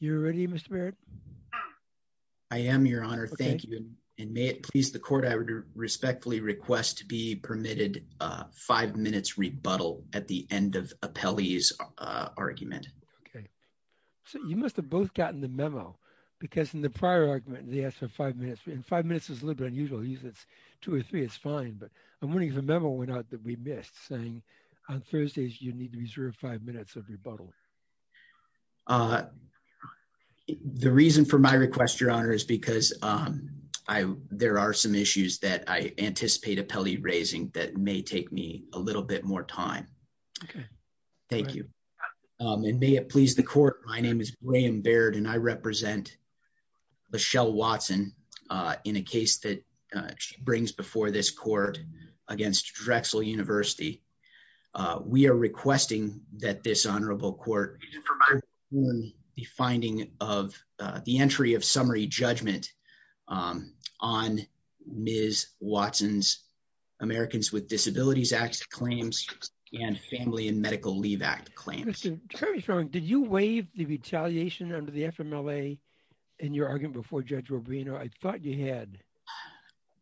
You're ready Mr. Barrett? I am your honor. Thank you and may it please the court I would respectfully request to be permitted five minutes rebuttal at the end of Appelli's argument. Okay so you must have both gotten the memo because in the prior argument they asked for five minutes and five minutes is a little bit unusual usually it's two or three it's fine but I'm wondering if a memo went out that we missed saying on Thursdays you need to reserve five minutes of rebuttal. Uh the reason for my request your honor is because um I there are some issues that I anticipate Appelli raising that may take me a little bit more time. Okay thank you and may it please the court my name is William Barrett and I represent Lachelle Watson uh in a case that she brings before this court against Drexel University. Uh we are requesting that this honorable court provide the finding of the entry of summary judgment um on Ms. Watson's Americans with Disabilities Act claims and Family and Medical Act claims. Did you waive the retaliation under the FMLA in your argument before Judge Rubino? I thought you had.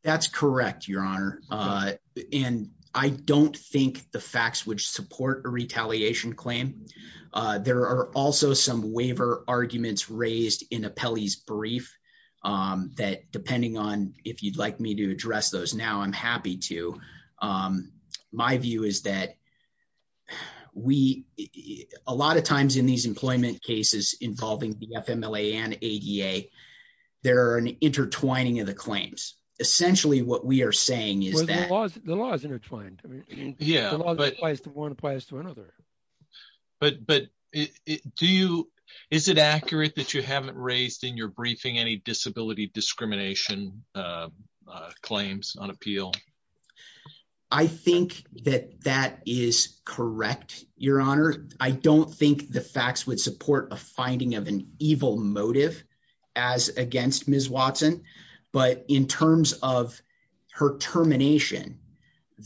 That's correct your honor uh and I don't think the facts would support a retaliation claim uh there are also some waiver arguments raised in Appelli's brief um that depending on if you'd like me to address those now I'm happy to um my view is that we a lot of times in these employment cases involving the FMLA and ADA there are an intertwining of the claims essentially what we are saying is that the law is intertwined I mean yeah but one applies to another but but do you is it accurate that you haven't raised in your correct your honor I don't think the facts would support a finding of an evil motive as against Ms. Watson but in terms of her termination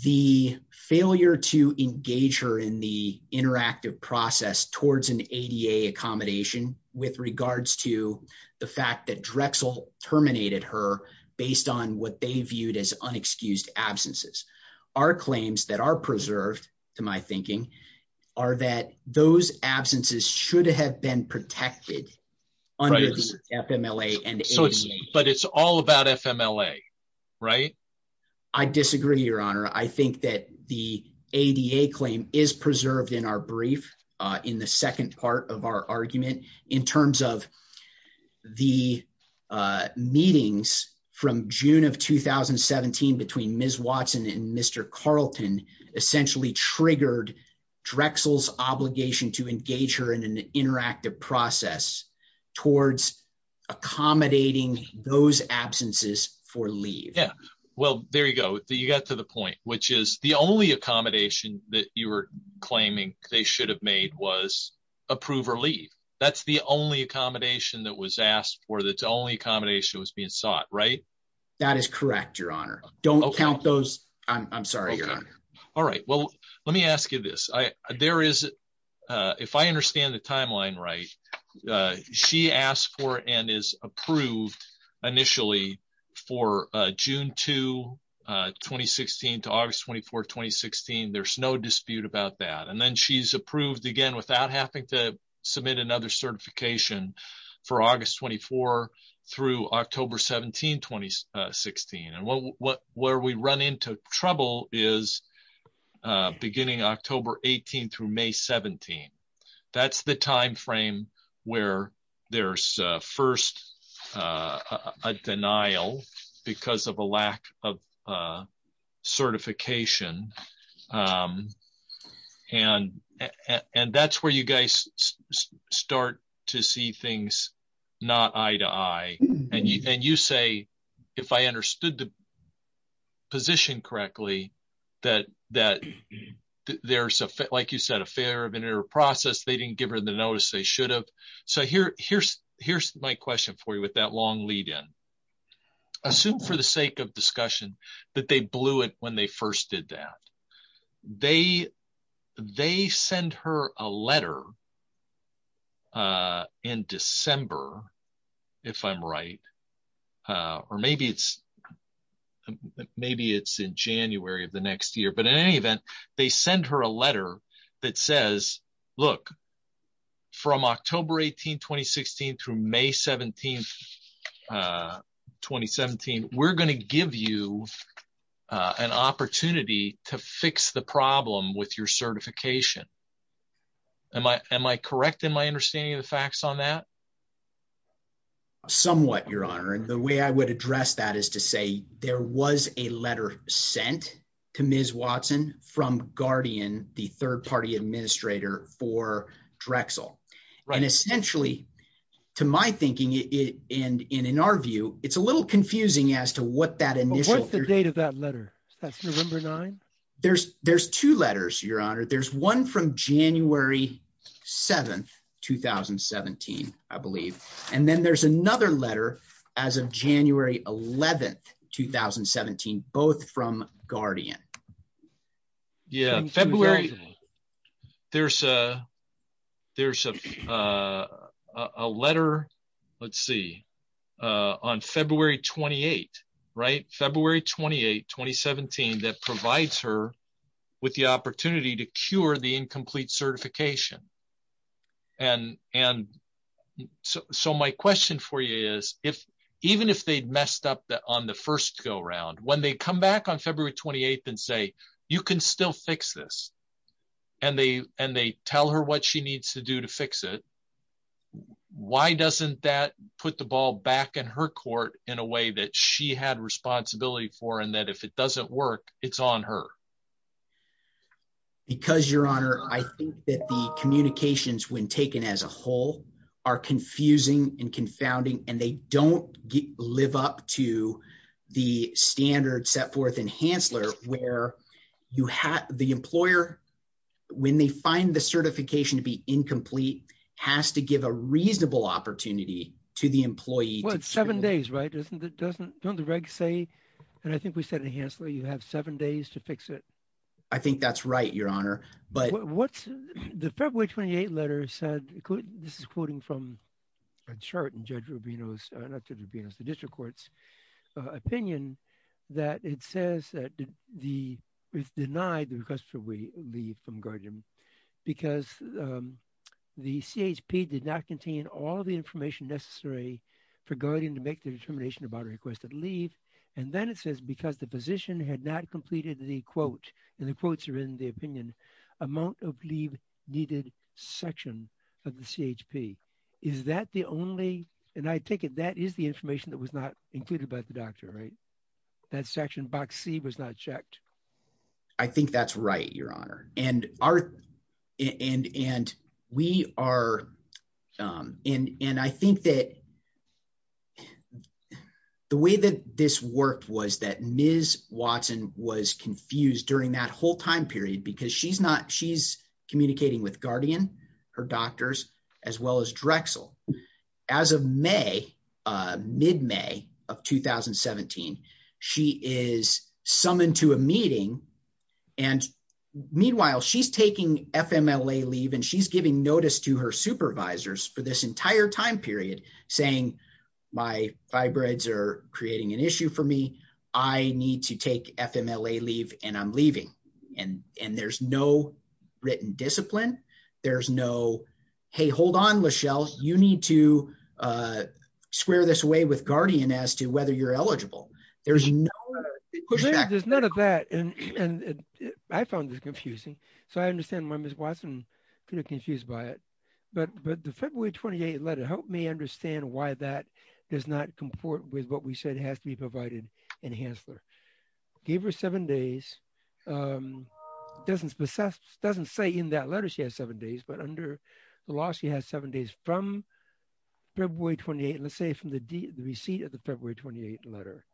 the failure to engage her in the interactive process towards an ADA accommodation with regards to the fact that Drexel terminated her based on what they viewed as unexcused absences our claims that are preserved to my thinking are that those absences should have been protected under the FMLA and ADA but it's all about FMLA right I disagree your honor I think that the ADA claim is preserved in our brief uh in the from June of 2017 between Ms. Watson and Mr. Carlton essentially triggered Drexel's obligation to engage her in an interactive process towards accommodating those absences for leave yeah well there you go you got to the point which is the only accommodation that you were claiming they should have made was approve or leave that's the only accommodation that was asked for that's the accommodation was being sought right that is correct your honor don't count those I'm sorry your honor all right well let me ask you this I there is uh if I understand the timeline right she asked for and is approved initially for uh June 2 2016 to August 24 2016 there's no dispute about that and then she's approved again without having to submit another certification for August 24 through October 17 2016 and what what where we run into trouble is uh beginning October 18 through May 17 that's the time frame where there's uh first uh a denial because of a lack of uh eye-to-eye and you and you say if I understood the position correctly that that there's a like you said a failure of an error process they didn't give her the notice they should have so here here's here's my question for you with that long lead-in assume for the sake of discussion that they blew it when they first did that they they send her a letter uh in December if I'm right uh or maybe it's maybe it's in January of the next year but in any event they send her a letter that says look from October 18 2016 through May 17 uh 2017 we're going to give you uh an opportunity to fix the problem with your certification am I am I correct in my understanding of the facts on that somewhat your honor and the way I would address that is to say there was a letter sent to Ms. Drexel and essentially to my thinking it and in our view it's a little confusing as to what that initial what's the date of that letter that's November 9 there's there's two letters your honor there's one from January 7 2017 I believe and then there's another letter as of January 11 2017 both from Guardian yeah February there's a there's a uh a letter let's see uh on February 28 right February 28 2017 that provides her with the opportunity to cure the incomplete certification and and so so my question for you is if even if they'd messed up that on the first go around when they come back on February 28th and say you can still fix this and they and they tell her what she needs to do to fix it why doesn't that put the ball back in her court in a way that she had responsibility for and that if it doesn't work it's on her because your honor I think that the communications when taken as a whole are confusing and confounding and they don't live up to the standard set forth in Hansler where you have the employer when they find the certification to be incomplete has to give a reasonable opportunity to the employee well it's seven days right isn't it doesn't don't the reg say and I think we said in Hansler you have seven days to said this is quoting from a chart and judge Rubino's uh not to Rubino's the district court's opinion that it says that the it's denied the request for we leave from Guardian because the CHP did not contain all the information necessary for Guardian to make the determination about requested leave and then it says because the position had not completed the quote and quotes are in the opinion amount of leave needed section of the CHP is that the only and I take it that is the information that was not included by the doctor right that section box c was not checked I think that's right your honor and our and and we are um and and I think that the way that this worked was that Ms. Watson was confused during that whole time period because she's not she's communicating with Guardian her doctors as well as Drexel as of May uh mid-May of 2017 she is summoned to a meeting and meanwhile she's taking FMLA and she's giving notice to her supervisors for this entire time period saying my fibroids are creating an issue for me I need to take FMLA leave and I'm leaving and and there's no written discipline there's no hey hold on Lachelle you need to uh square this away with Guardian as to whether you're eligible there's no there's none of that and and I found this confusing so I could have confused by it but but the February 28 letter helped me understand why that does not comport with what we said has to be provided in Hansler gave her seven days um doesn't possess doesn't say in that letter she has seven days but under the law she has seven days from February 28 let's say from the receipt of the February 28 letter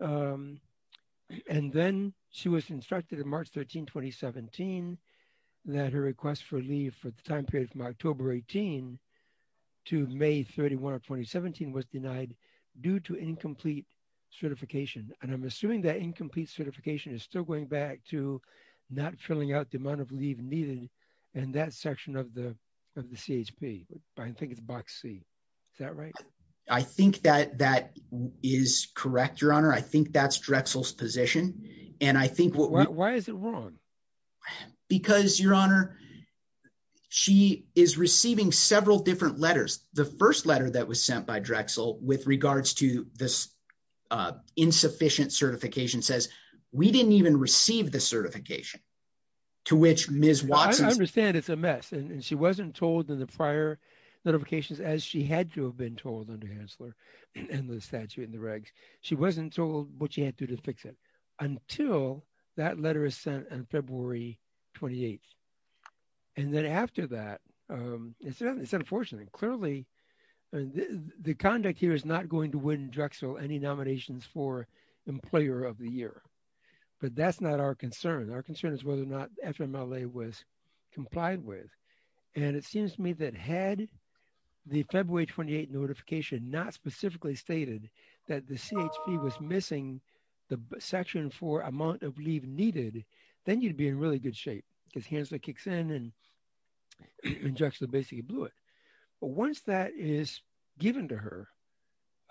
um and then she was instructed in March 13 2017 that her request for leave for the time period from October 18 to May 31 of 2017 was denied due to incomplete certification and I'm assuming that incomplete certification is still going back to not filling out the amount of leave needed in that section of the of the CHP I think it's box C is that right I think that that is correct your honor I think that's Drexel's position and I think what why is it wrong because your honor she is receiving several different letters the first letter that was sent by Drexel with regards to this uh insufficient certification says we didn't even receive the certification to which Ms. Watson understand it's a mess and she wasn't told in the prior notifications as she had to have been told under Hansler and the statute in the regs she wasn't told what she had to do to fix it until that letter is sent on February 28th and then after that um it's unfortunate clearly the conduct here is not going to win Drexel any nominations for employer of the year but that's not our concern our concern is whether or not FMLA was complied with and it seems to me that had the February 28th notification not specifically stated that the CHP was missing the section for amount of leave needed then you'd be in really good shape because Hansler kicks in and Drexel basically blew it but once that is given to her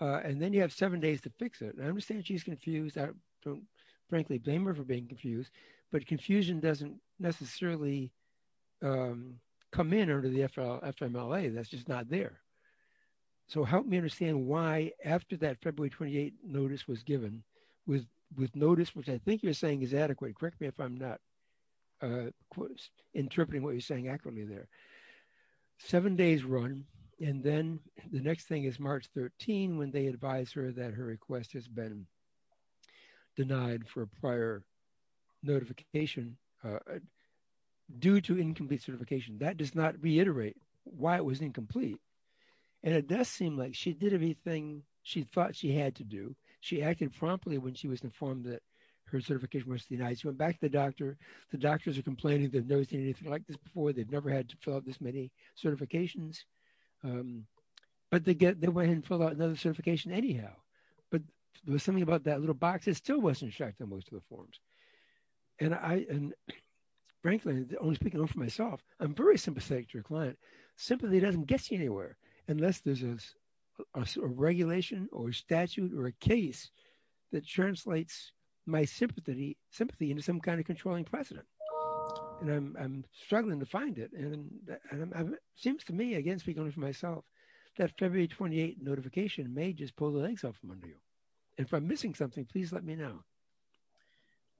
uh and then you have seven days to fix it I understand she's confused I don't frankly blame her for being confused but confusion doesn't necessarily um come in under the FL FMLA that's just not there so help me understand why after that February 28th notice was given with with notice which I think you're saying is adequate correct me if I'm not uh interpreting what you're saying accurately there seven days run and then the next thing is March 13 when they advise her that her notification uh due to incomplete certification that does not reiterate why it was incomplete and it does seem like she did everything she thought she had to do she acted promptly when she was informed that her certification was denied she went back to the doctor the doctors are complaining they've noticed anything like this before they've never had to fill out this many certifications um but they get they went and filled out another certification anyhow but there was something about that little box it still wasn't checked on most of the forms and I and frankly only speaking for myself I'm very sympathetic to your client simply doesn't get you anywhere unless there's a regulation or statute or a case that translates my sympathy sympathy into some kind of controlling precedent and I'm struggling to find it and it seems to me speaking for myself that February 28 notification may just pull the legs off from under you if I'm missing something please let me know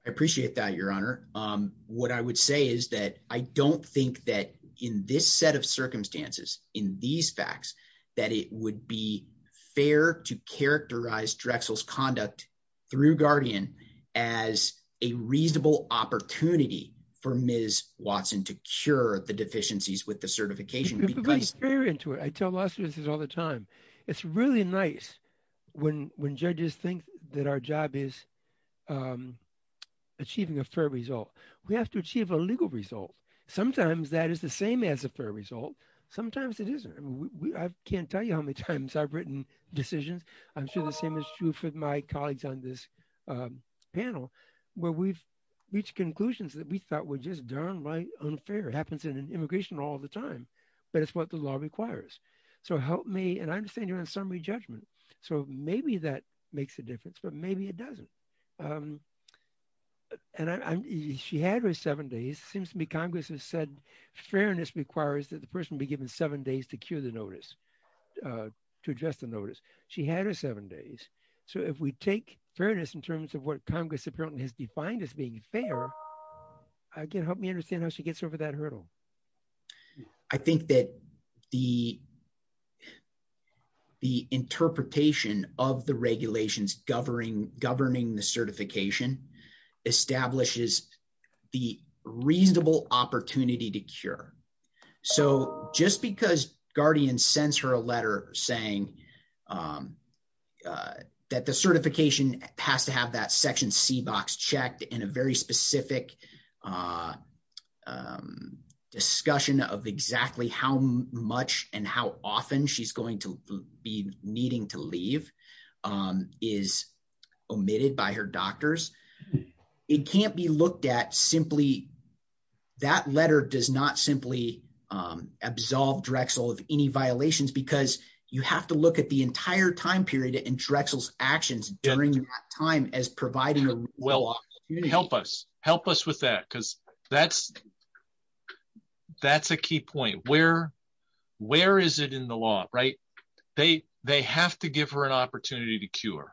I appreciate that your honor um what I would say is that I don't think that in this set of circumstances in these facts that it would be fair to characterize Drexel's conduct through Guardian as a reasonable opportunity for Ms. Watson to cure the deficiencies with the certification because very into it I tell law students all the time it's really nice when when judges think that our job is um achieving a fair result we have to achieve a legal result sometimes that is the same as a fair result sometimes it isn't I can't tell you how many times I've written decisions I'm sure the same is true for my colleagues on this panel where we've reached conclusions that we thought were just downright unfair it happens in immigration all the time but it's what the law requires so help me and I understand you're in summary judgment so maybe that makes a difference but maybe it doesn't um and I'm she had her seven days seems to me Congress has said fairness requires that the person be given seven days to cure the notice uh to address the notice she had her seven days so if we take fairness in terms of what Congress apparently has defined as being fair I can help me understand how she gets over that hurdle I think that the the interpretation of the regulations governing governing the certification establishes the reasonable opportunity to cure so just because Guardian sends her a letter saying um that the certification has to have that section c box checked in a very specific discussion of exactly how much and how often she's going to be needing to leave is omitted by her doctors it can't be looked at simply that letter does not simply um absolve Drexel of any violations because you have to look at the entire time period and Drexel's actions during that time as providing a well help us help us with that because that's that's a key point where where is it in the law right they they have to give her an opportunity to cure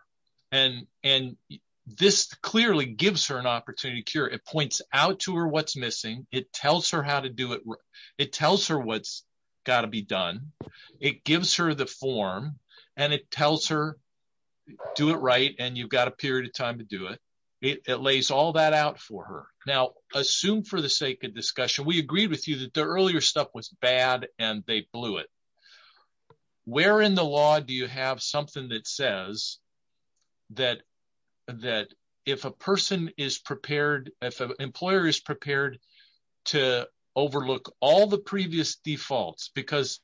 and and this clearly gives her an opportunity to cure it points out to her it tells her how to do it it tells her what's got to be done it gives her the form and it tells her do it right and you've got a period of time to do it it lays all that out for her now assume for the sake of discussion we agreed with you that the earlier stuff was bad and they blew it where in the law do you have something that says that that if a person is prepared if an employer is prepared to overlook all the previous defaults because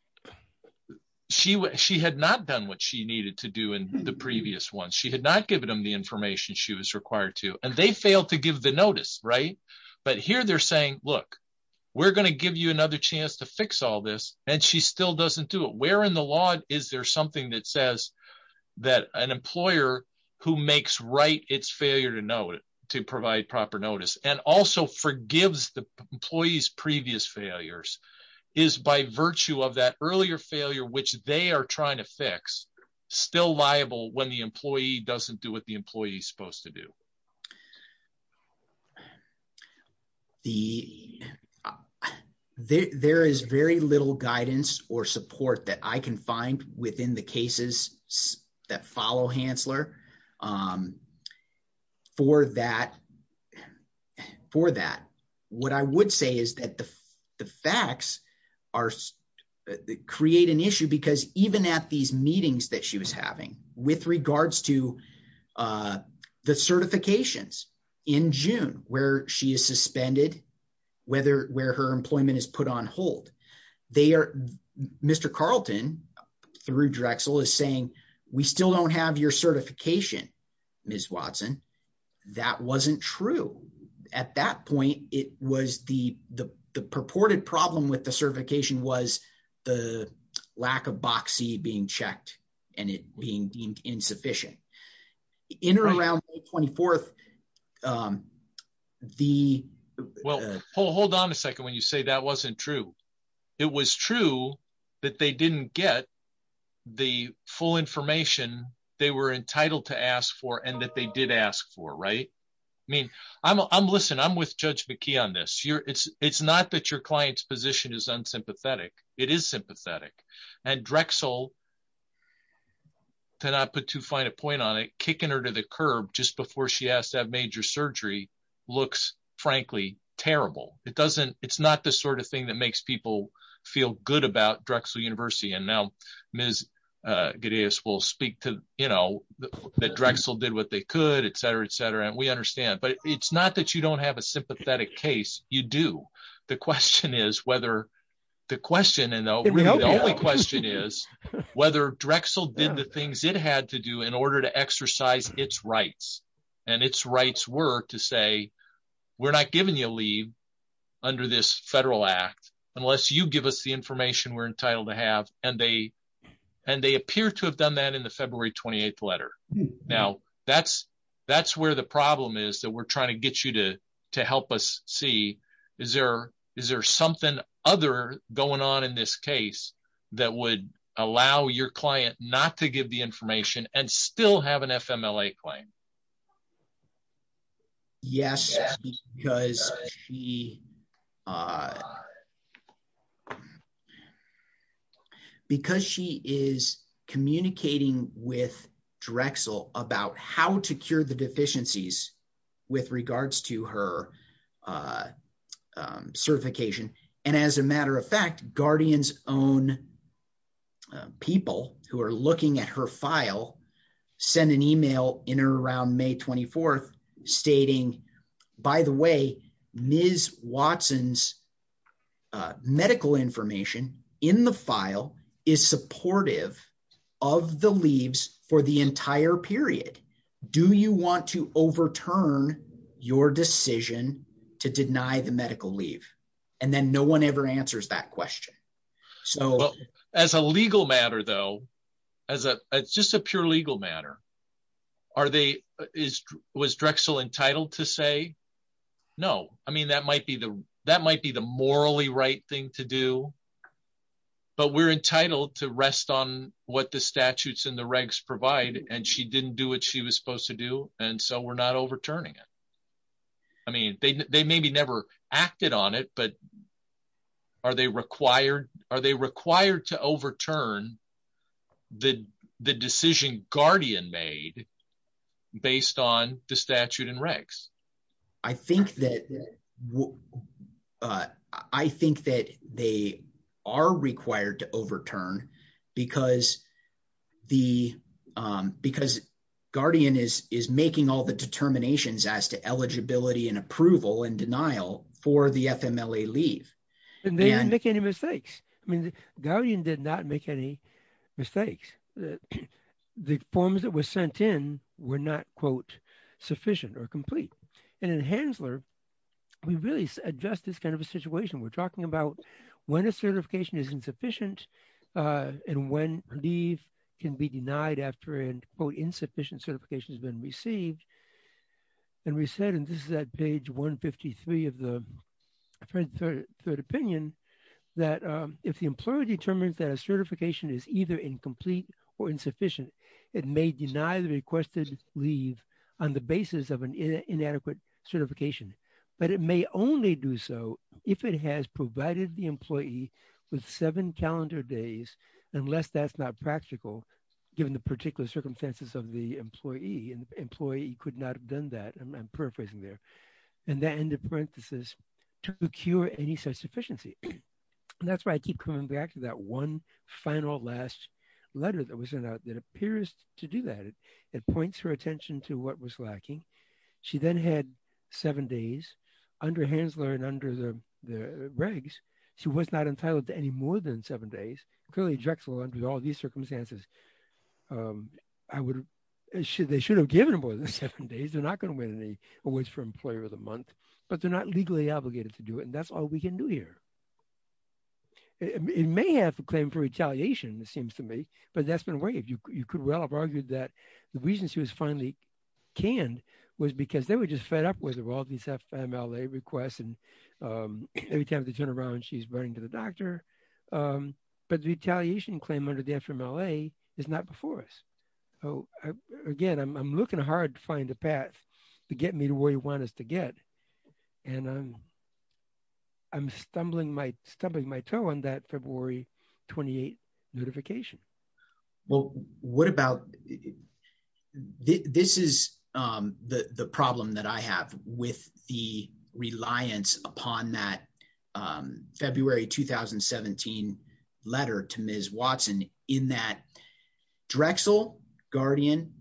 she she had not done what she needed to do in the previous one she had not given them the information she was required to and they failed to give the notice right but here they're saying look we're going to give you another chance to fix all this and she still doesn't do it where in the law is there something that says that an employer who makes right its failure to know to provide proper notice and also forgives the employees previous failures is by virtue of that earlier failure which they are trying to fix still liable when the employee doesn't do what the employee is supposed to do the there is very little guidance or support that i can find within the cases that follow hansler um for that for that what i would say is that the facts are create an issue because even at these meetings that she was having with regards to uh the certifications in june where she is suspended whether where her employment is put on hold they are mr carlton through drexel is saying we still don't have your certification ms watson that wasn't true at that point it was the the purported problem with the certification was the lack of boxy being checked and it being deemed insufficient in or around 24th um the well hold on a second when you say that wasn't true it was true that they didn't get the full information they were entitled to ask for and that they did ask for right i mean i'm listen i'm with judge mckee on this you're it's it's not that your client's position is unsympathetic it is sympathetic and drexel did not put too fine a point on it kicking her to the curb just before she asked to have major surgery looks frankly terrible it doesn't it's not the sort of thing that makes people feel good about drexel university and now ms uh gideas will speak to you know that drexel did what they could etc etc and we understand but it's not that you don't have a sympathetic case you do the question is whether the question and the only question is whether drexel did the things it had to do in order to exercise its rights and its rights were to say we're not giving you leave under this federal act unless you give us the information we're entitled to have and they and they appear to have done that in the february 28th letter now that's that's where the problem is that we're trying to get you to to help us see is there is something other going on in this case that would allow your client not to give the information and still have an fmla claim yes because she uh because she is communicating with drexel about how to cure the deficiencies with regards to her uh certification and as a matter of fact guardians own people who are looking at her file send an email in around may 24th stating by the way ms watson's medical information in the file is supportive of the leaves for the entire period do you want to overturn your decision to deny the medical leave and then no one ever answers that question so as a legal matter though as a it's just a pure legal matter are they is was drexel entitled to say no i mean that might be the that might be the morally right thing to do but we're entitled to rest on what the statutes and the regs provide and she didn't do what she was supposed to do and so we're not overturning it i mean they maybe never acted on it but are they required are they required to overturn the the decision guardian made based on the statute and regs i think that uh i think that they are required to overturn because the um because guardian is is making all the determinations as to eligibility and approval and denial for the fmla leave and they didn't make any mistakes i mean the guardian did not make any mistakes the forms that were we really address this kind of a situation we're talking about when a certification is insufficient and when leave can be denied after an insufficient certification has been received and we said and this is at page 153 of the third opinion that if the employer determines that a certification is either incomplete or insufficient it may deny the requested leave on the basis of an inadequate certification but it may only do so if it has provided the employee with seven calendar days unless that's not practical given the particular circumstances of the employee and employee could not have done that i'm paraphrasing there and that end of parenthesis to procure any such sufficiency and that's why i keep coming back to that one final last letter that was sent out that appears to do that it points her attention to what was lacking she then had seven days under hansler and under the regs she was not entitled to any more than seven days clearly drexel under all these circumstances um i would they should have given more than seven days they're not going to win any awards for employer of the month but they're not legally obligated to do it and that's all we can do here it may have a claim for retaliation it seems to me but that's been you could well have argued that the reason she was finally canned was because they were just fed up with all these fmla requests and every time they turn around she's running to the doctor but the retaliation claim under the fmla is not before us so again i'm looking hard to find a path to get me to where you want us to get and i'm i'm stumbling my stumbling my toe on that february 28th notification well what about this is um the the problem that i have with the reliance upon that um february 2017 letter to ms watson in that drexel guardian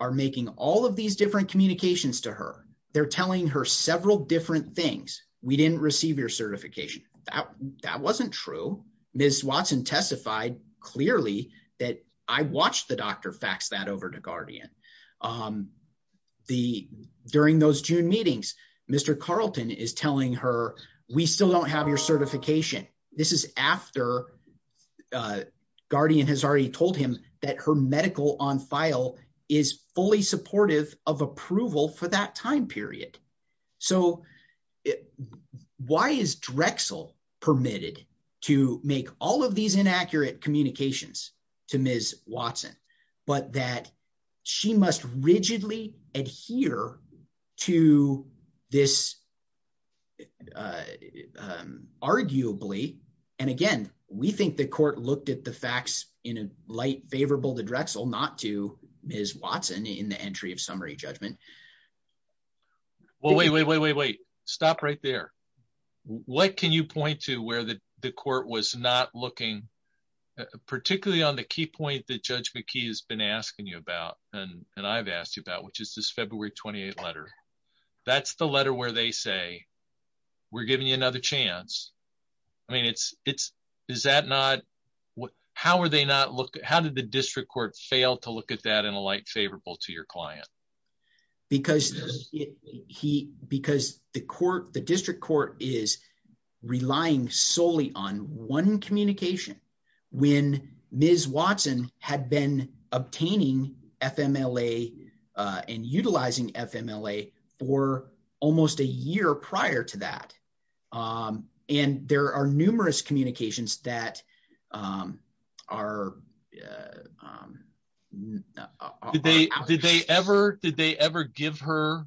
are making all of these different communications to her they're telling her several different things we didn't receive your certification that that wasn't true ms watson testified clearly that i watched the doctor fax that over to guardian um the during those june meetings mr carlton is telling her we still don't have your certification this is after uh guardian has already told him that her medical on file is fully supportive of approval for that time period so why is drexel permitted to make all of these inaccurate communications to ms watson but that she must rigidly adhere to this arguably and again we think the court looked at the facts in a light favorable to drexel not to ms watson in the entry of summary judgment well wait wait wait wait stop right there what can you point to where the the court was not looking particularly on the key point that judge mckee has been asking you about and and i've asked you about which is this february 28th letter that's the letter where they say we're giving you another chance i mean it's it's is what how are they not look how did the district court fail to look at that in a light favorable to your client because he because the court the district court is relying solely on one communication when ms watson had been obtaining fmla and utilizing fmla for almost a year prior to that um and there are numerous communications that um are um did they did they ever did they ever give her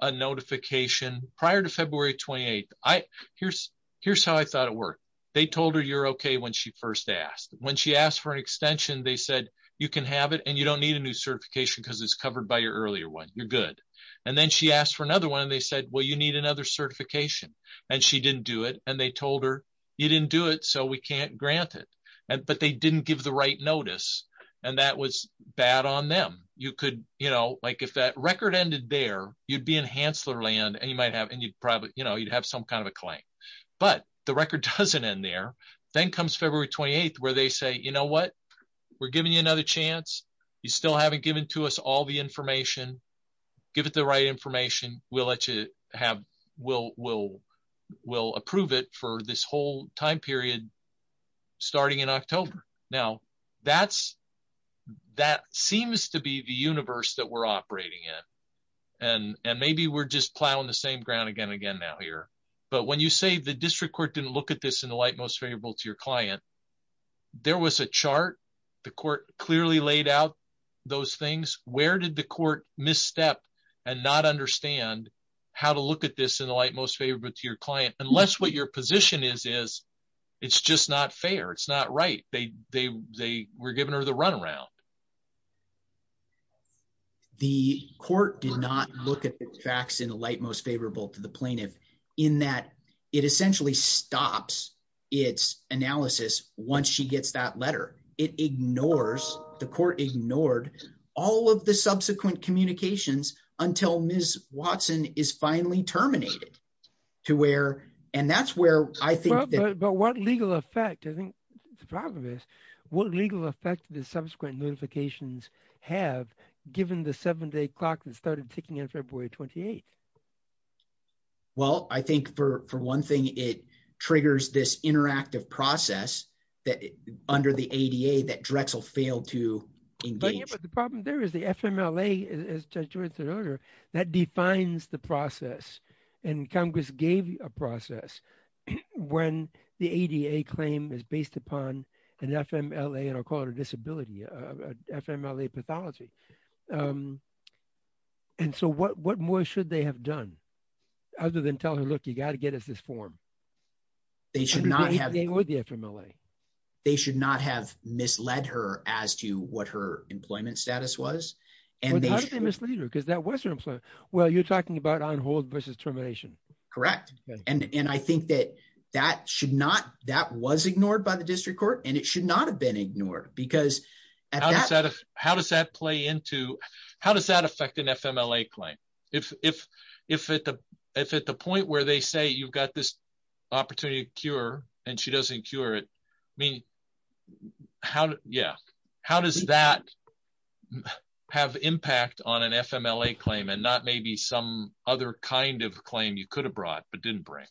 a notification prior to february 28th i here's here's how i thought it worked they told her you're okay when she first asked when she asked for an extension they said you can have it and you don't need a new certification because it's covered by your earlier one you're and then she asked for another one and they said well you need another certification and she didn't do it and they told her you didn't do it so we can't grant it and but they didn't give the right notice and that was bad on them you could you know like if that record ended there you'd be in hansler land and you might have and you'd probably you know you'd have some kind of a claim but the record doesn't end there then comes february 28th where they say you know what we're giving to us all the information give it the right information we'll let you have we'll we'll we'll approve it for this whole time period starting in october now that's that seems to be the universe that we're operating in and and maybe we're just plowing the same ground again again now here but when you say the district court didn't look at this in the light most to your client there was a chart the court clearly laid out those things where did the court misstep and not understand how to look at this in the light most favorable to your client unless what your position is is it's just not fair it's not right they they they were giving her the runaround the court did not look at the facts in the light most favorable to the plaintiff in that it essentially stops its analysis once she gets that letter it ignores the court ignored all of the subsequent communications until ms watson is finally terminated to where and that's where i think but what legal effect i think the problem is what legal effect the subsequent notifications have given the seven day clock that started ticking in february 28th well i think for for one thing it triggers this interactive process that under the ada that drexel failed to engage but the problem there is the fmla as judge george said earlier that defines the process and congress gave a process when the ada claim is based upon an fmla and i'll call it a disability a fmla pathology um and so what what more should they have done other than tell her look you got to get us this form they should not have the fmla they should not have misled her as to what her employment status was and they mislead her because that wasn't employment well you're talking about on hold versus termination correct and and i think that that should not that was ignored by the district court and it should not have been ignored because how does that how does that play into how does that affect an fmla claim if if if at the if at the point where they say you've got this opportunity to cure and she doesn't cure it i mean how yeah how does that have impact on an fmla claim and not maybe some other kind of claim you could have brought but didn't bring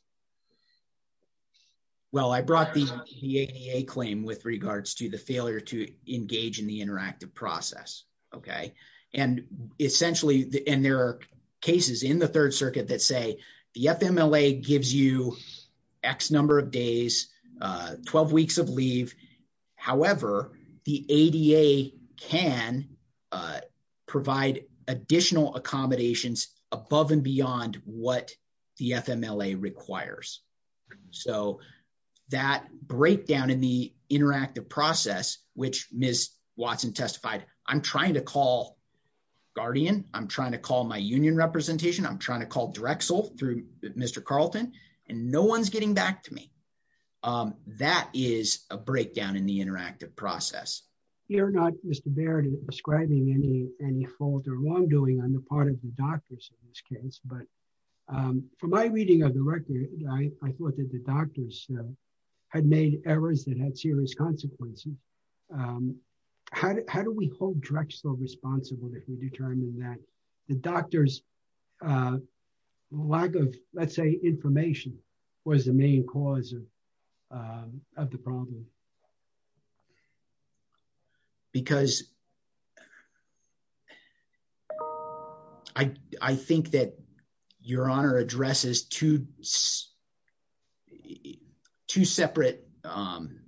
well i brought the the ada claim with regards to the failure to engage in the interactive process okay and essentially and there are cases in the third circuit that say the fmla gives you x number of days uh 12 weeks of leave however the ada can uh provide additional accommodations above and beyond what the fmla requires so that breakdown in the interactive process which miss watson testified i'm trying to call guardian i'm trying to call my union representation i'm trying to call drexel through mr carlton and no one's getting back to me um that is a breakdown in the interactive process you're not mr baird describing any any fault or wrongdoing on the part of the doctors in this case but um for my reading of the record i thought that the doctors had made errors that had serious consequences um how do we hold drexel responsible if we determine that the doctor's uh lack of let's say information was the main cause of um of the problem because i i think that your honor addresses two two separate um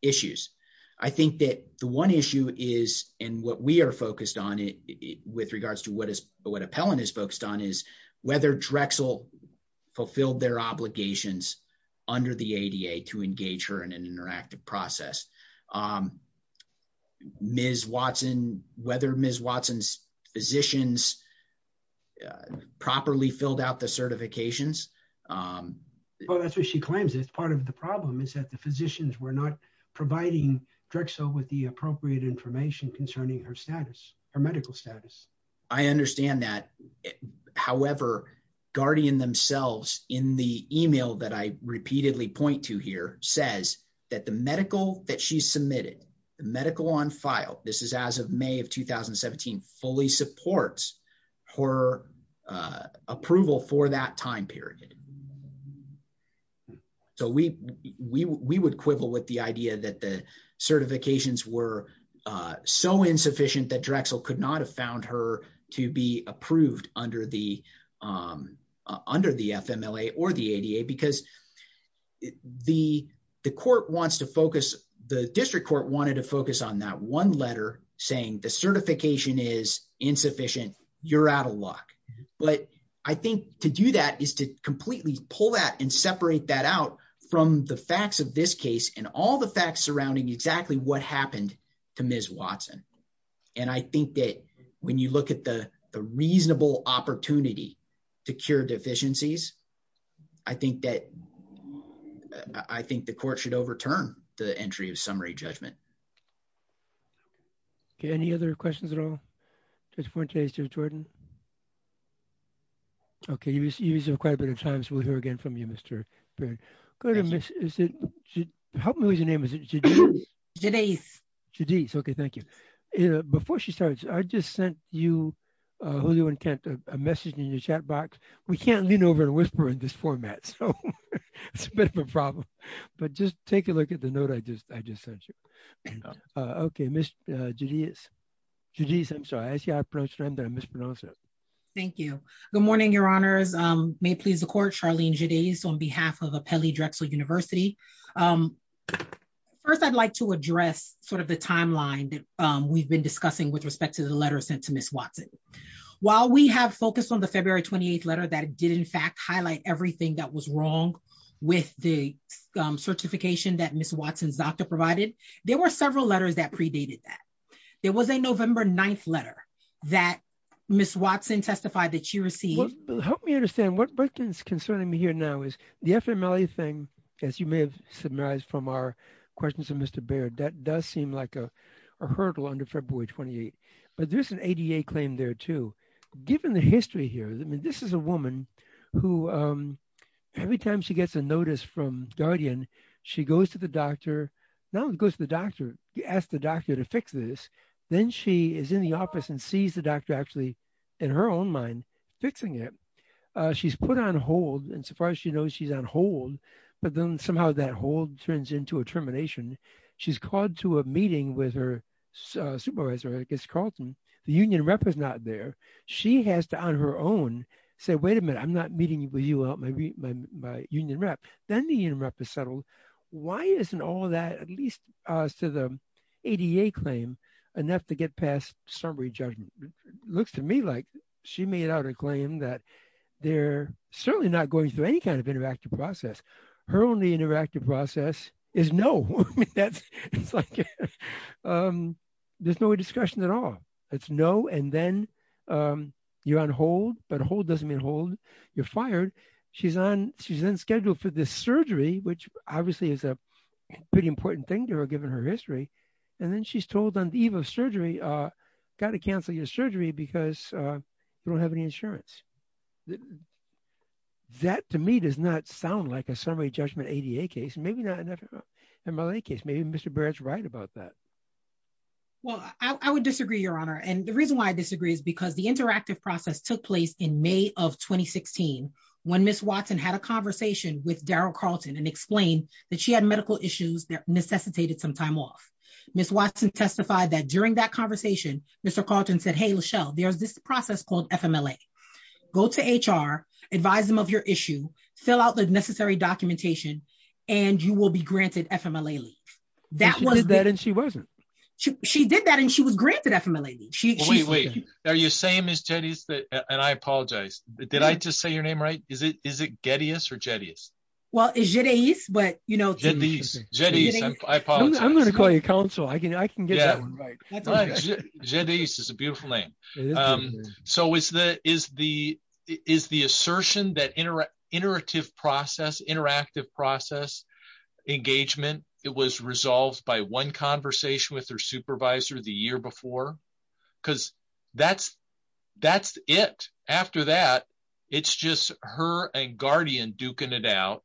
issues i think that the one issue is and what we are focused on it with regards to what appellant is focused on is whether drexel fulfilled their obligations under the ada to engage her in an interactive process um ms watson whether ms watson's physicians properly filled out the certifications um well that's what she claims it's part of the problem is that the physicians were not providing drexel with the appropriate information concerning her her medical status i understand that however guardian themselves in the email that i repeatedly point to here says that the medical that she submitted the medical on file this is as of may of 2017 fully supports her uh approval for that time period um so we we we would quibble with the idea that the certifications were uh so insufficient that drexel could not have found her to be approved under the um under the fmla or the ada because the the court wants to focus the district court wanted to focus on that one letter saying the certification is insufficient you're out of luck but i think to do that is to completely pull that and separate that out from the facts of this case and all the facts surrounding exactly what happened to ms watson and i think that when you look at the the reasonable opportunity to cure deficiencies i think that i think the court should overturn the entry of summary judgment okay any other questions at all just for today's jordan okay he was using quite a bit of time so we'll hear again from you mr period go to miss is it help me with your name is it jenice jenice okay thank you before she starts i just sent you uh julio and kent a message in your chat box we can't lean over and whisper in this format so it's a bit of a problem but just take a look at the note i just sent you uh okay mr julius judice i'm sorry i see i approached him that i mispronounced it thank you good morning your honors um may it please the court charlene judy's on behalf of appelli drexel university um first i'd like to address sort of the timeline that um we've been discussing with respect to the letter sent to miss watson while we have focused on the february 28th letter that did in fact highlight everything that was wrong with the um certification that miss watson's doctor provided there were several letters that predated that there was a november 9th letter that miss watson testified that she received help me understand what britain's concerning me here now is the fml thing as you may have summarized from our questions of mr baird that does seem like a hurdle under february 28th but there's an ada claim there too given the history here i mean this is a woman who um every time she gets a notice from guardian she goes to the doctor now it goes to the doctor you ask the doctor to fix this then she is in the office and sees the doctor actually in her own mind fixing it uh she's put on hold and so far as she knows she's on hold but then somehow that hold turns into a termination she's called to a meeting with her supervisor i guess carlton the union rep is not there she has to on her own say wait a minute i'm not meeting with you out my my union rep then the union rep is settled why isn't all that at least as to the ada claim enough to get past summary judgment looks to me like she made out a claim that they're certainly not going through any kind of interactive process her only interactive process is no i mean that's it's like um there's no discussion at all it's no and then um you're hold but hold doesn't mean hold you're fired she's on she's then scheduled for this surgery which obviously is a pretty important thing to her given her history and then she's told on the eve of surgery uh got to cancel your surgery because uh you don't have any insurance that to me does not sound like a summary judgment ada case maybe not enough mla case maybe mr barrett's right about that well i would disagree your honor and the reason why i disagree is because the interactive process took place in may of 2016 when miss watson had a conversation with daryl carlton and explained that she had medical issues that necessitated some time off miss watson testified that during that conversation mr carlton said hey lachelle there's this process called fmla go to hr advise them of your issue fill out the necessary documentation and you will be granted fmla leave that was that and she wasn't she did that and she was granted fmla leave she wait are you same as jetties that and i apologize did i just say your name right is it is it gettys or jetties well it's jetties but you know jetties jetties i apologize i'm going to call you counsel i can i can get that one right jetties is a beautiful name um so is the is the is the assertion that interactive process interactive process engagement it was resolved by one supervisor the year before because that's that's it after that it's just her and guardian duking it out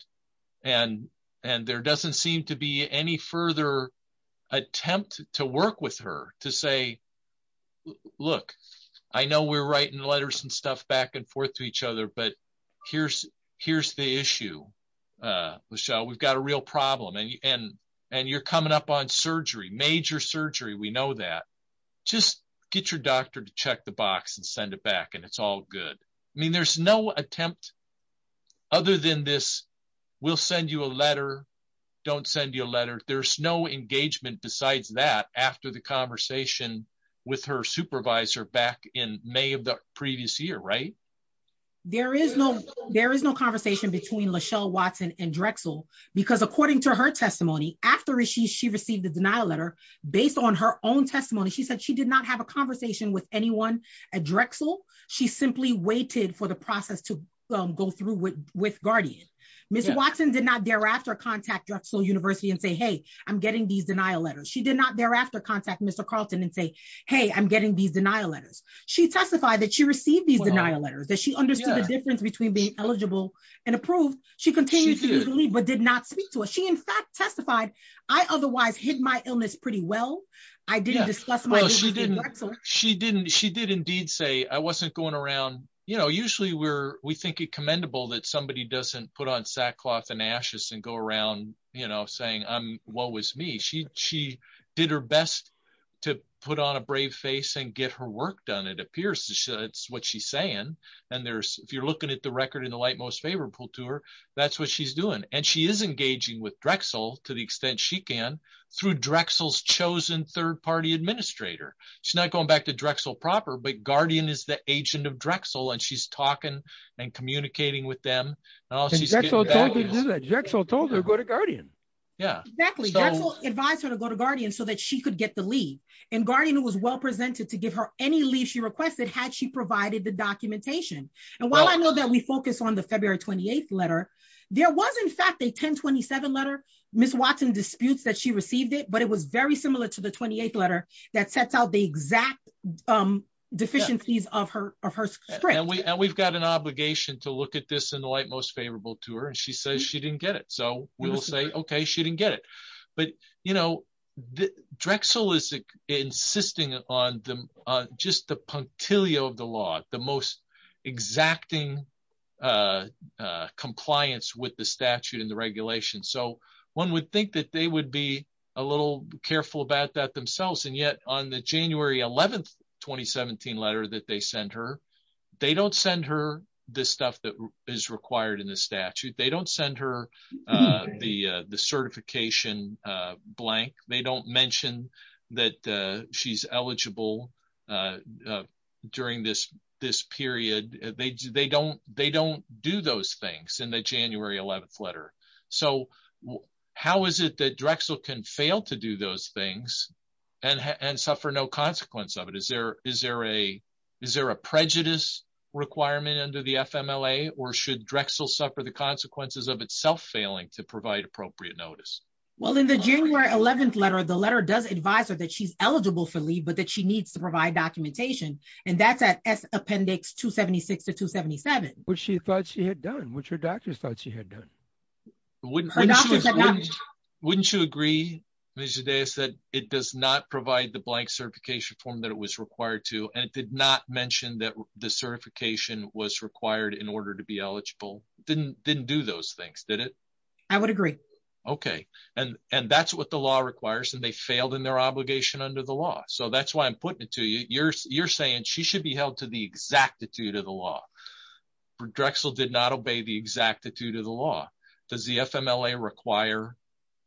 and and there doesn't seem to be any further attempt to work with her to say look i know we're writing letters and stuff back and forth to each other but here's here's the issue uh lachelle we've got a real problem and and you're coming up on surgery major surgery we know that just get your doctor to check the box and send it back and it's all good i mean there's no attempt other than this we'll send you a letter don't send you a letter there's no engagement besides that after the conversation with her supervisor back in may of the previous year right there is no there is no conversation between lachelle watson and drexel because according to her testimony after she she received the denial letter based on her own testimony she said she did not have a conversation with anyone at drexel she simply waited for the process to go through with with guardian miss watson did not thereafter contact drexel university and say hey i'm getting these denial letters she did not thereafter contact mr carlton and say hey i'm getting these denial letters she testified that she received these denial letters that she understood the difference between being eligible and approved she continued to leave but did not speak to us she in fact testified i otherwise hid my illness pretty well i didn't discuss my she didn't she did indeed say i wasn't going around you know usually we're we think it commendable that somebody doesn't put on sackcloth and ashes and go around you know saying i'm what she did her best to put on a brave face and get her work done it appears to show it's what she's saying and there's if you're looking at the record in the light most favorable to her that's what she's doing and she is engaging with drexel to the extent she can through drexel's chosen third party administrator she's not going back to drexel proper but guardian is the agent of drexel and she's talking and communicating with them she told her go to guardian yeah exactly advice her to go to guardian so that she could get the lead and guardian was well presented to give her any leave she requested had she provided the documentation and while i know that we focus on the february 28th letter there was in fact a 1027 letter miss watson disputes that she received it but it was very similar to the 28th letter that sets out the exact um deficiencies of her of her sprint and we and we've got an obligation to look at this in the light most favorable to her and she says she didn't get it so we will say okay she didn't get it but you know the drexel is insisting on the just the punctilio of the law the most exacting uh uh compliance with the statute and the regulation so one would think that they would be a little careful about that themselves and yet on the january 11th 2017 letter that they sent her they don't send her this stuff that is required in the statute they don't send her uh the uh the certification uh blank they don't mention that uh she's eligible uh during this this period they they don't they don't do those things in the consequence of it is there is there a is there a prejudice requirement under the fmla or should drexel suffer the consequences of itself failing to provide appropriate notice well in the january 11th letter the letter does advise her that she's eligible for leave but that she needs to provide documentation and that's at s appendix 276 to 277 which she thought she had done which her doctors thought she had done wouldn't wouldn't you agree mrs deus said it does not provide the blank certification form that it was required to and it did not mention that the certification was required in order to be eligible didn't didn't do those things did it i would agree okay and and that's what the law requires and they failed in their obligation under the law so that's why i'm putting it to you you're you're saying she should be held to the exactitude of the law drexel did not obey the exactitude of the law does the fmla require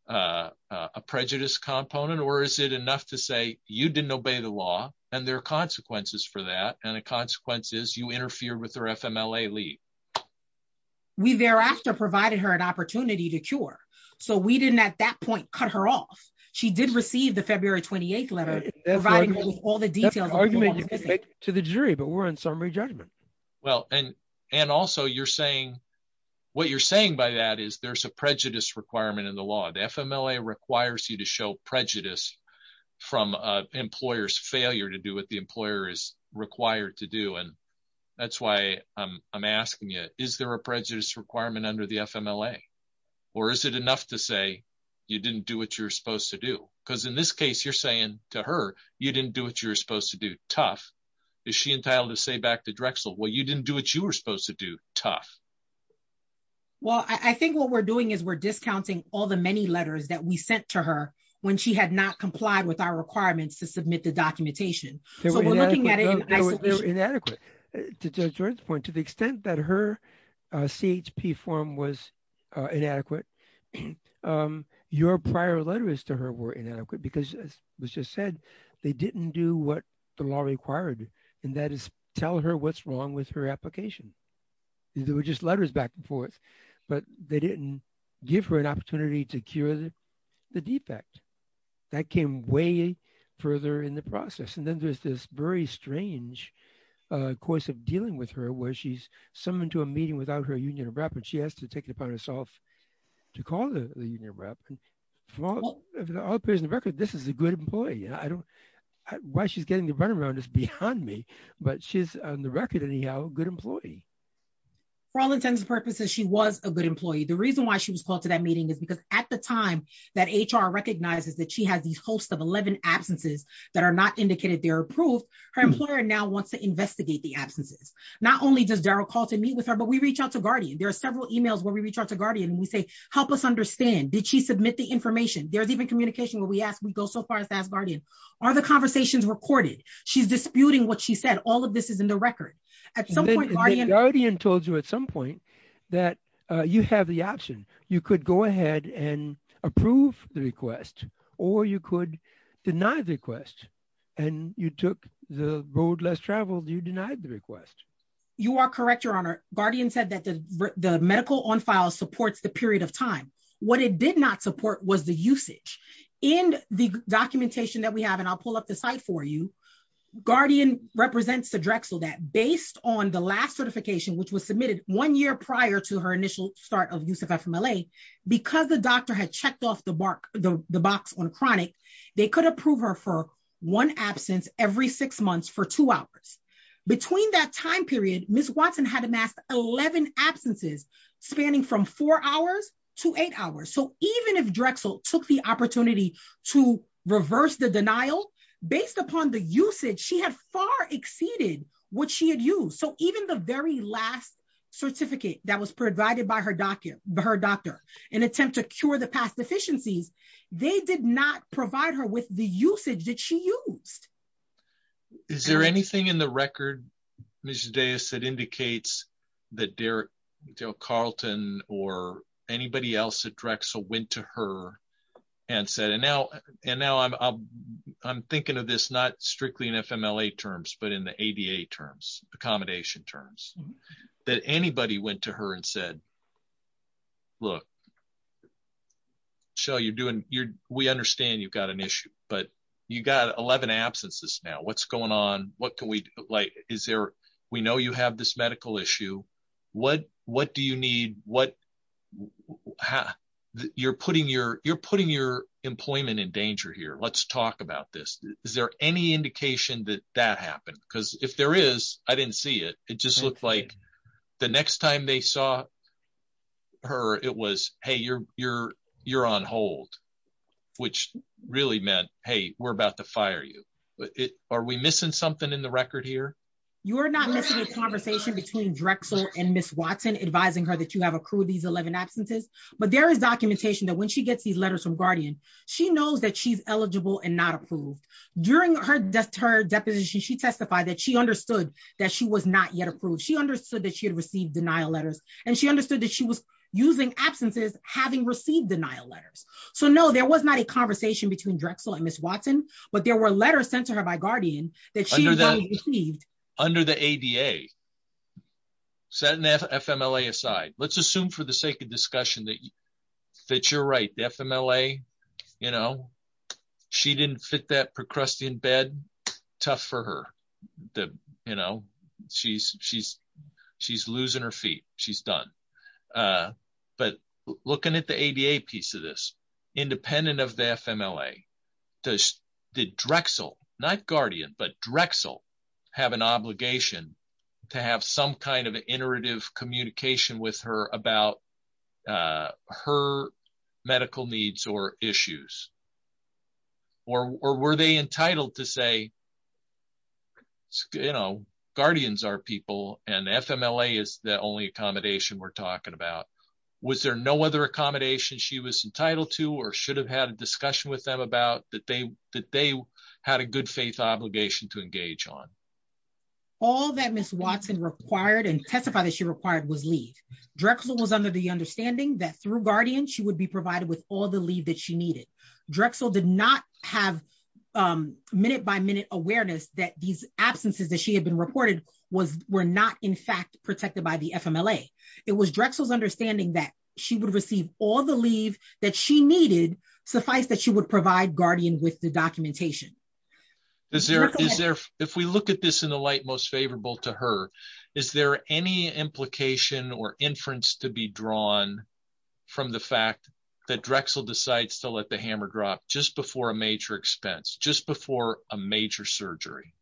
uh a prejudice component or is it enough to say you didn't obey the law and there are consequences for that and the consequence is you interfere with her fmla leave we thereafter provided her an opportunity to cure so we didn't at that point cut her off she did receive the february 28th letter providing all details to the jury but we're in summary judgment well and and also you're saying what you're saying by that is there's a prejudice requirement in the law the fmla requires you to show prejudice from uh employer's failure to do what the employer is required to do and that's why i'm asking you is there a prejudice requirement under the fmla or is it enough to say you didn't do what you're supposed to do because in this case you're saying to her you didn't do what you're supposed to do tough is she entitled to say back to drexel well you didn't do what you were supposed to do tough well i think what we're doing is we're discounting all the many letters that we sent to her when she had not complied with our requirements to submit the documentation so we're looking at it they're inadequate to judge jordan's point to the extent that her uh chp form was uh inadequate um your prior letters to her were inadequate because was just said they didn't do what the law required and that is tell her what's wrong with her application there were just letters back and forth but they didn't give her an opportunity to cure the defect that came way further in the process and then there's this very strange uh course of dealing with her where she's summoned to a meeting without her union of well all appears in the record this is a good employee i don't why she's getting the runaround is behind me but she's on the record anyhow good employee for all intents and purposes she was a good employee the reason why she was called to that meeting is because at the time that hr recognizes that she has these hosts of 11 absences that are not indicated they're approved her employer now wants to investigate the absences not only does daryl call to meet with her but we reach out to guardian there are several emails where we reach out to guardian and we say help us understand did she submit the information there's even communication where we ask we go so far as to ask guardian are the conversations recorded she's disputing what she said all of this is in the record at some point guardian told you at some point that uh you have the option you could go ahead and approve the request or you could deny the request and you took the road less traveled you denied the request you are correct your honor guardian said that the the medical on file supports the period of time what it did not support was the usage in the documentation that we have and i'll pull up the site for you guardian represents the drexel that based on the last certification which was submitted one year prior to her initial start of use of fmla because the doctor had checked off the bark the box on chronic they could approve her for one absence every six months for two hours between that time period miss watson had amassed 11 absences spanning from four hours to eight hours so even if drexel took the opportunity to reverse the denial based upon the usage she had far exceeded what she had used so even the very last certificate that was provided by her document her doctor in attempt to cure the past deficiencies they did not provide her with the usage that she used is there anything in the record mrs dais that indicates that derrick joe carlton or anybody else at drexel went to her and said and now and now i'm i'm i'm thinking of this not strictly in fmla terms but in the ada terms accommodation terms that anybody went to her and said look shell you're doing you're we understand you've got an issue but you got 11 absences now what's going on what can we like is there we know you have this medical issue what what do you need what you're putting your you're putting your employment in danger here let's talk about this is there any indication that that happened because if there is i didn't see it it just looked like the next time they saw her it was hey you're you're you're on hold which really meant hey we're about to fire you but it are we missing something in the record here you're not missing a conversation between drexel and miss watson advising her that you have accrued these 11 absences but there is documentation that when she gets these letters from guardian she knows that she's eligible and not approved during her death her deposition she testified that she understood that she was not yet approved she understood that she had received denial letters and she understood that she was using absences having received denial letters so no there was not a conversation between drexel and miss watson but there were letters sent to her by guardian that she received under the ada setting fmla aside let's assume for the sake of discussion that that you're right the fmla you know she didn't fit that procrustean bed tough for her the you know she's she's she's losing her feet she's done uh but looking at the ada piece of this independent of the fmla does did drexel not guardian but drexel have an obligation to have some kind of iterative communication with her about uh her medical needs or issues or were they entitled to say you know guardians are people and fmla is the only accommodation we're talking about was there no other accommodation she was entitled to or should have had a discussion with them about that they that they had a good faith obligation to engage on all that miss watson required and testified that she required was leave drexel was under the understanding that through guardian she would be provided with all the leave that she needed drexel did not have um minute by minute awareness that these absences that she had been reported was were not in fact protected by the fmla it was drexel's understanding that she would receive all the leave that she needed suffice that she would provide guardian with the documentation is there is there if we look at this in the light most favorable to her is there any implication or inference to be drawn from the fact that drexel decides to let the hammer drop just before a just before a major surgery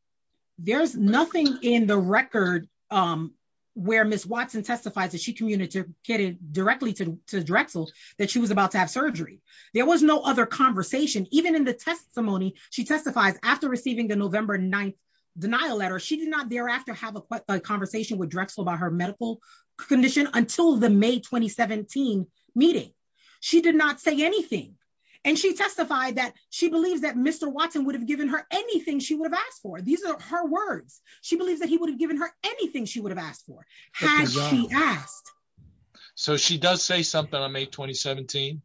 there's nothing in the record um where miss watson testifies that she communicated directly to drexel that she was about to have surgery there was no other conversation even in the testimony she testifies after receiving the november 9th denial letter she did not thereafter have a conversation with drexel about her medical condition until the may 2017 meeting she did not say anything and she testified that she believes that mr watson would have given her anything she would have asked for these are her words she believes that he would have given her anything she would have asked for has she asked so she does say something on may 2017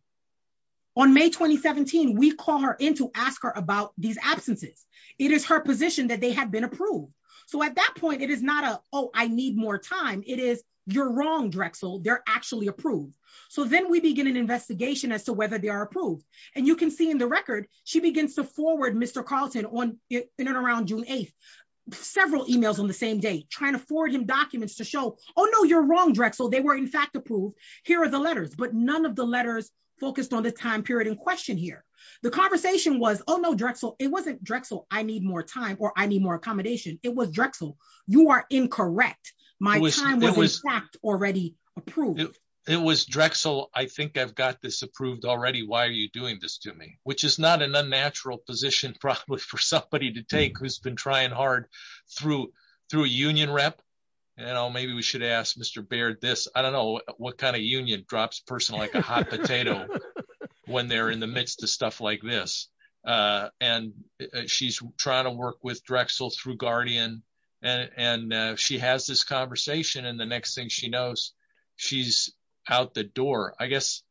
on may 2017 we call her in to ask her about these absences it is her position that they have been approved so at that point it is not a oh i need more time it is you're wrong drexel they're actually approved so then we begin an investigation as to whether they are approved and you can see in the record she begins to forward mr carlton on in and around june 8th several emails on the same day trying to forward him documents to show oh no you're wrong drexel they were in fact approved here are the letters but none of the letters focused on the time period in question here the conversation was oh no drexel it wasn't drexel i need more time or i need more it was drexel i think i've got this approved already why are you doing this to me which is not an unnatural position probably for somebody to take who's been trying hard through through a union rep you know maybe we should ask mr baird this i don't know what kind of union drops person like a hot potato when they're in the midst of stuff like this uh and she's trying to work with drexel through guardian and and she has this conversation and the next thing she knows she's out the door i guess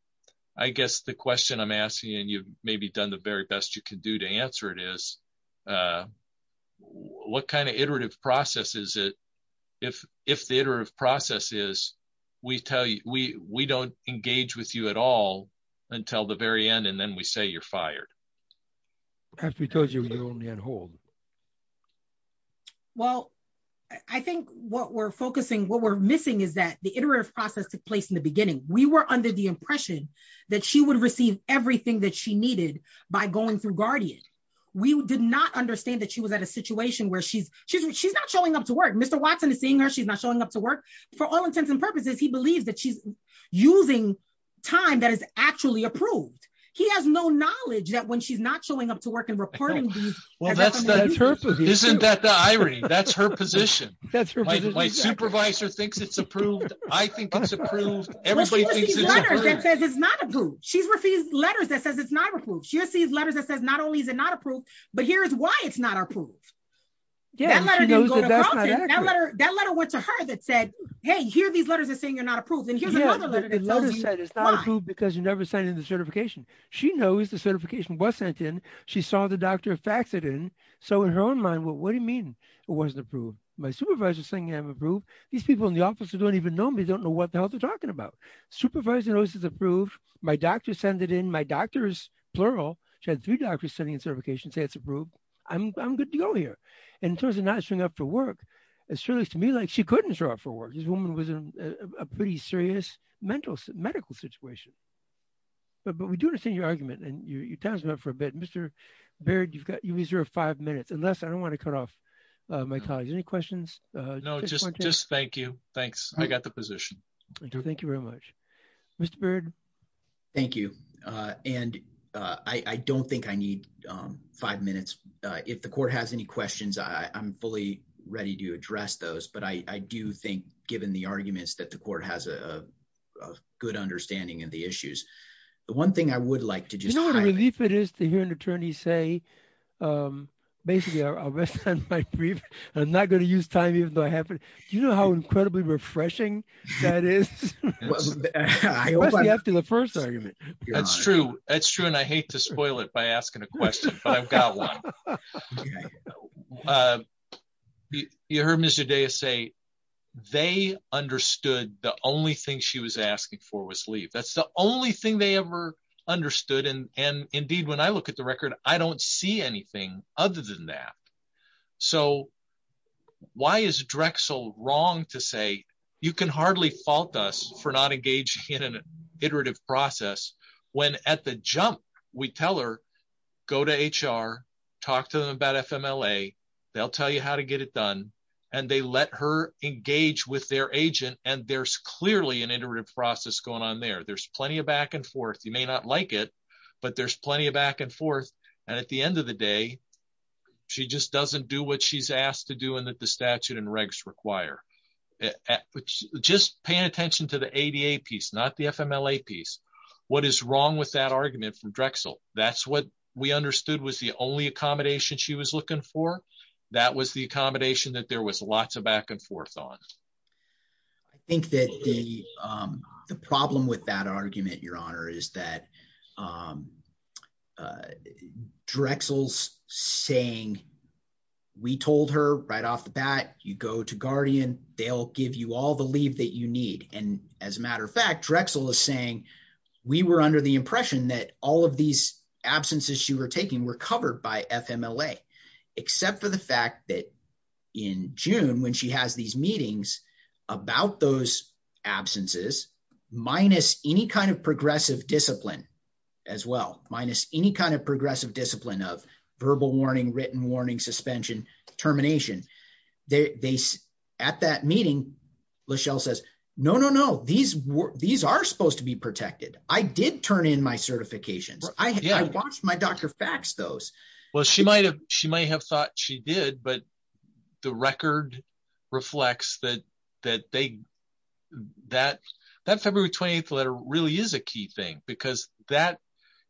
i guess the question i'm asking and you've maybe done the very best you can do to answer it is uh what kind of iterative process is it if if the iterative process is we tell you we we don't engage with you at all until the very end and then we say you're fired after we told you we only had hold well i think what we're focusing what we're missing is that the iterative process took place in the beginning we were under the impression that she would receive everything that she needed by going through guardian we did not understand that she was at a situation where she's she's she's not showing up to work mr watson is seeing her she's not showing up to work for all intents and purposes he believes that she's using time that is actually approved he has no knowledge that when she's not showing up to work and reporting well that's that's her isn't that the irony that's her position that's my supervisor thinks it's approved i think it's approved everybody thinks it's not approved she's refused letters that says it's not approved she sees letters that says not only is it not approved but here's why it's not approved yeah that letter that letter went to her that said hey here these letters are saying you're not approved and here's another letter it's not approved because you never signed into certification she knows the certification wasn't in she saw the doctor fax it in so in her own mind what do you mean it wasn't approved my supervisor's saying i'm approved these people in the office who don't even know me don't know what the hell they're talking about supervisor knows it's approved my doctor sent it in my doctors plural she had three doctors sitting in certification say it's approved i'm good to go here and in terms of not showing up for work it's really to me like she couldn't show up for work this woman was in a pretty serious mental medical situation but but we do understand your argument and your time's up for a bit mr baird you've got you reserve five minutes unless i don't want to cut off my colleagues any questions uh no just just thank you thanks i got the position thank you thank you very much mr bird thank you uh and uh i i don't think i need um five minutes uh if the court has any questions i i'm fully ready to address those but i i do think given the arguments that the court has a a good understanding of the issues the one thing i would like to just know what a relief it is to hear an attorney say um basically i'll rest on my brief i'm not going to use time even though i have it do you know how incredibly refreshing that is after the first argument that's true that's true and i hate to spoil it by asking a question but i've got one uh you heard mr deus say they understood the only thing she was asking for was leave that's the only thing they ever understood and and indeed when i look at the record i don't see anything other than that so why is drexel wrong to say you can hardly fault us for not engaging in an iterative process when at the jump we tell her go to hr talk to them about fmla they'll tell you how to get it done and they let her engage with their agent and there's clearly an iterative process going on there there's plenty of back and forth you may not like it but there's plenty of back and forth and at the end of the day she just doesn't do what she's asked to do and that the what is wrong with that argument from drexel that's what we understood was the only accommodation she was looking for that was the accommodation that there was lots of back and forth on i think that the um the problem with that argument your honor is that um drexel's saying we told her right off the bat you go to guardian they'll give you all the that you need and as a matter of fact drexel is saying we were under the impression that all of these absences she were taking were covered by fmla except for the fact that in june when she has these meetings about those absences minus any kind of progressive discipline as well minus any kind of progressive discipline of verbal warning written warning suspension termination they at that meeting lachelle says no no no these these are supposed to be protected i did turn in my certifications i i watched my doctor fax those well she might have she might have thought she did but the record reflects that that they that that february 28th letter really is a key thing because that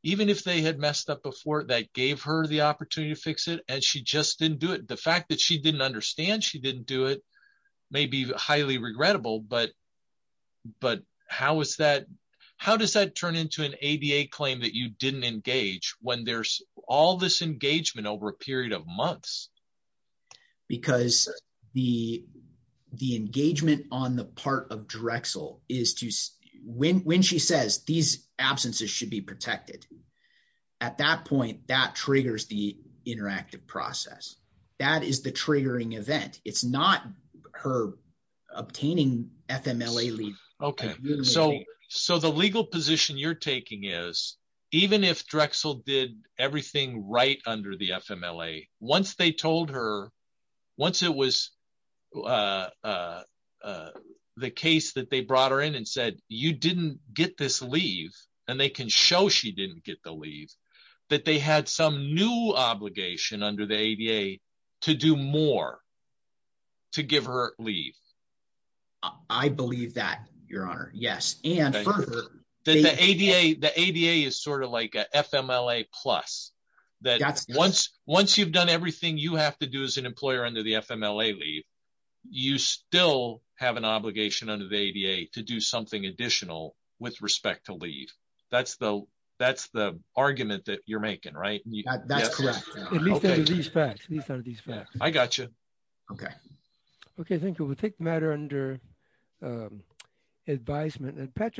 even if they had messed up before that gave her the opportunity to fix it and she just didn't do it the fact that she didn't understand she didn't do it may be highly regrettable but but how is that how does that turn into an ada claim that you didn't engage when there's all this engagement over a period of months because the the engagement on the part of drexel is to when when she says these absences should be protected at that point that triggers the interactive process that is the triggering event it's not her obtaining fmla leave okay so so the legal position you're taking is even if drexel did everything right under the fmla once they told her once it was uh uh the case that they brought her in and said you didn't get this leave and they can show she didn't get the leave that they had some new obligation under the ada to do more to give her leave i believe that your honor yes and further that the ada the ada is sort of like a fmla plus that's once once you've done everything you have to do as an employer under the fmla leave you still have an obligation under the ada to do something additional with respect to leave that's the that's the argument that you're making right that's correct at least under these facts these are these facts i got you okay okay thank you we'll take the matter under advisement and patrick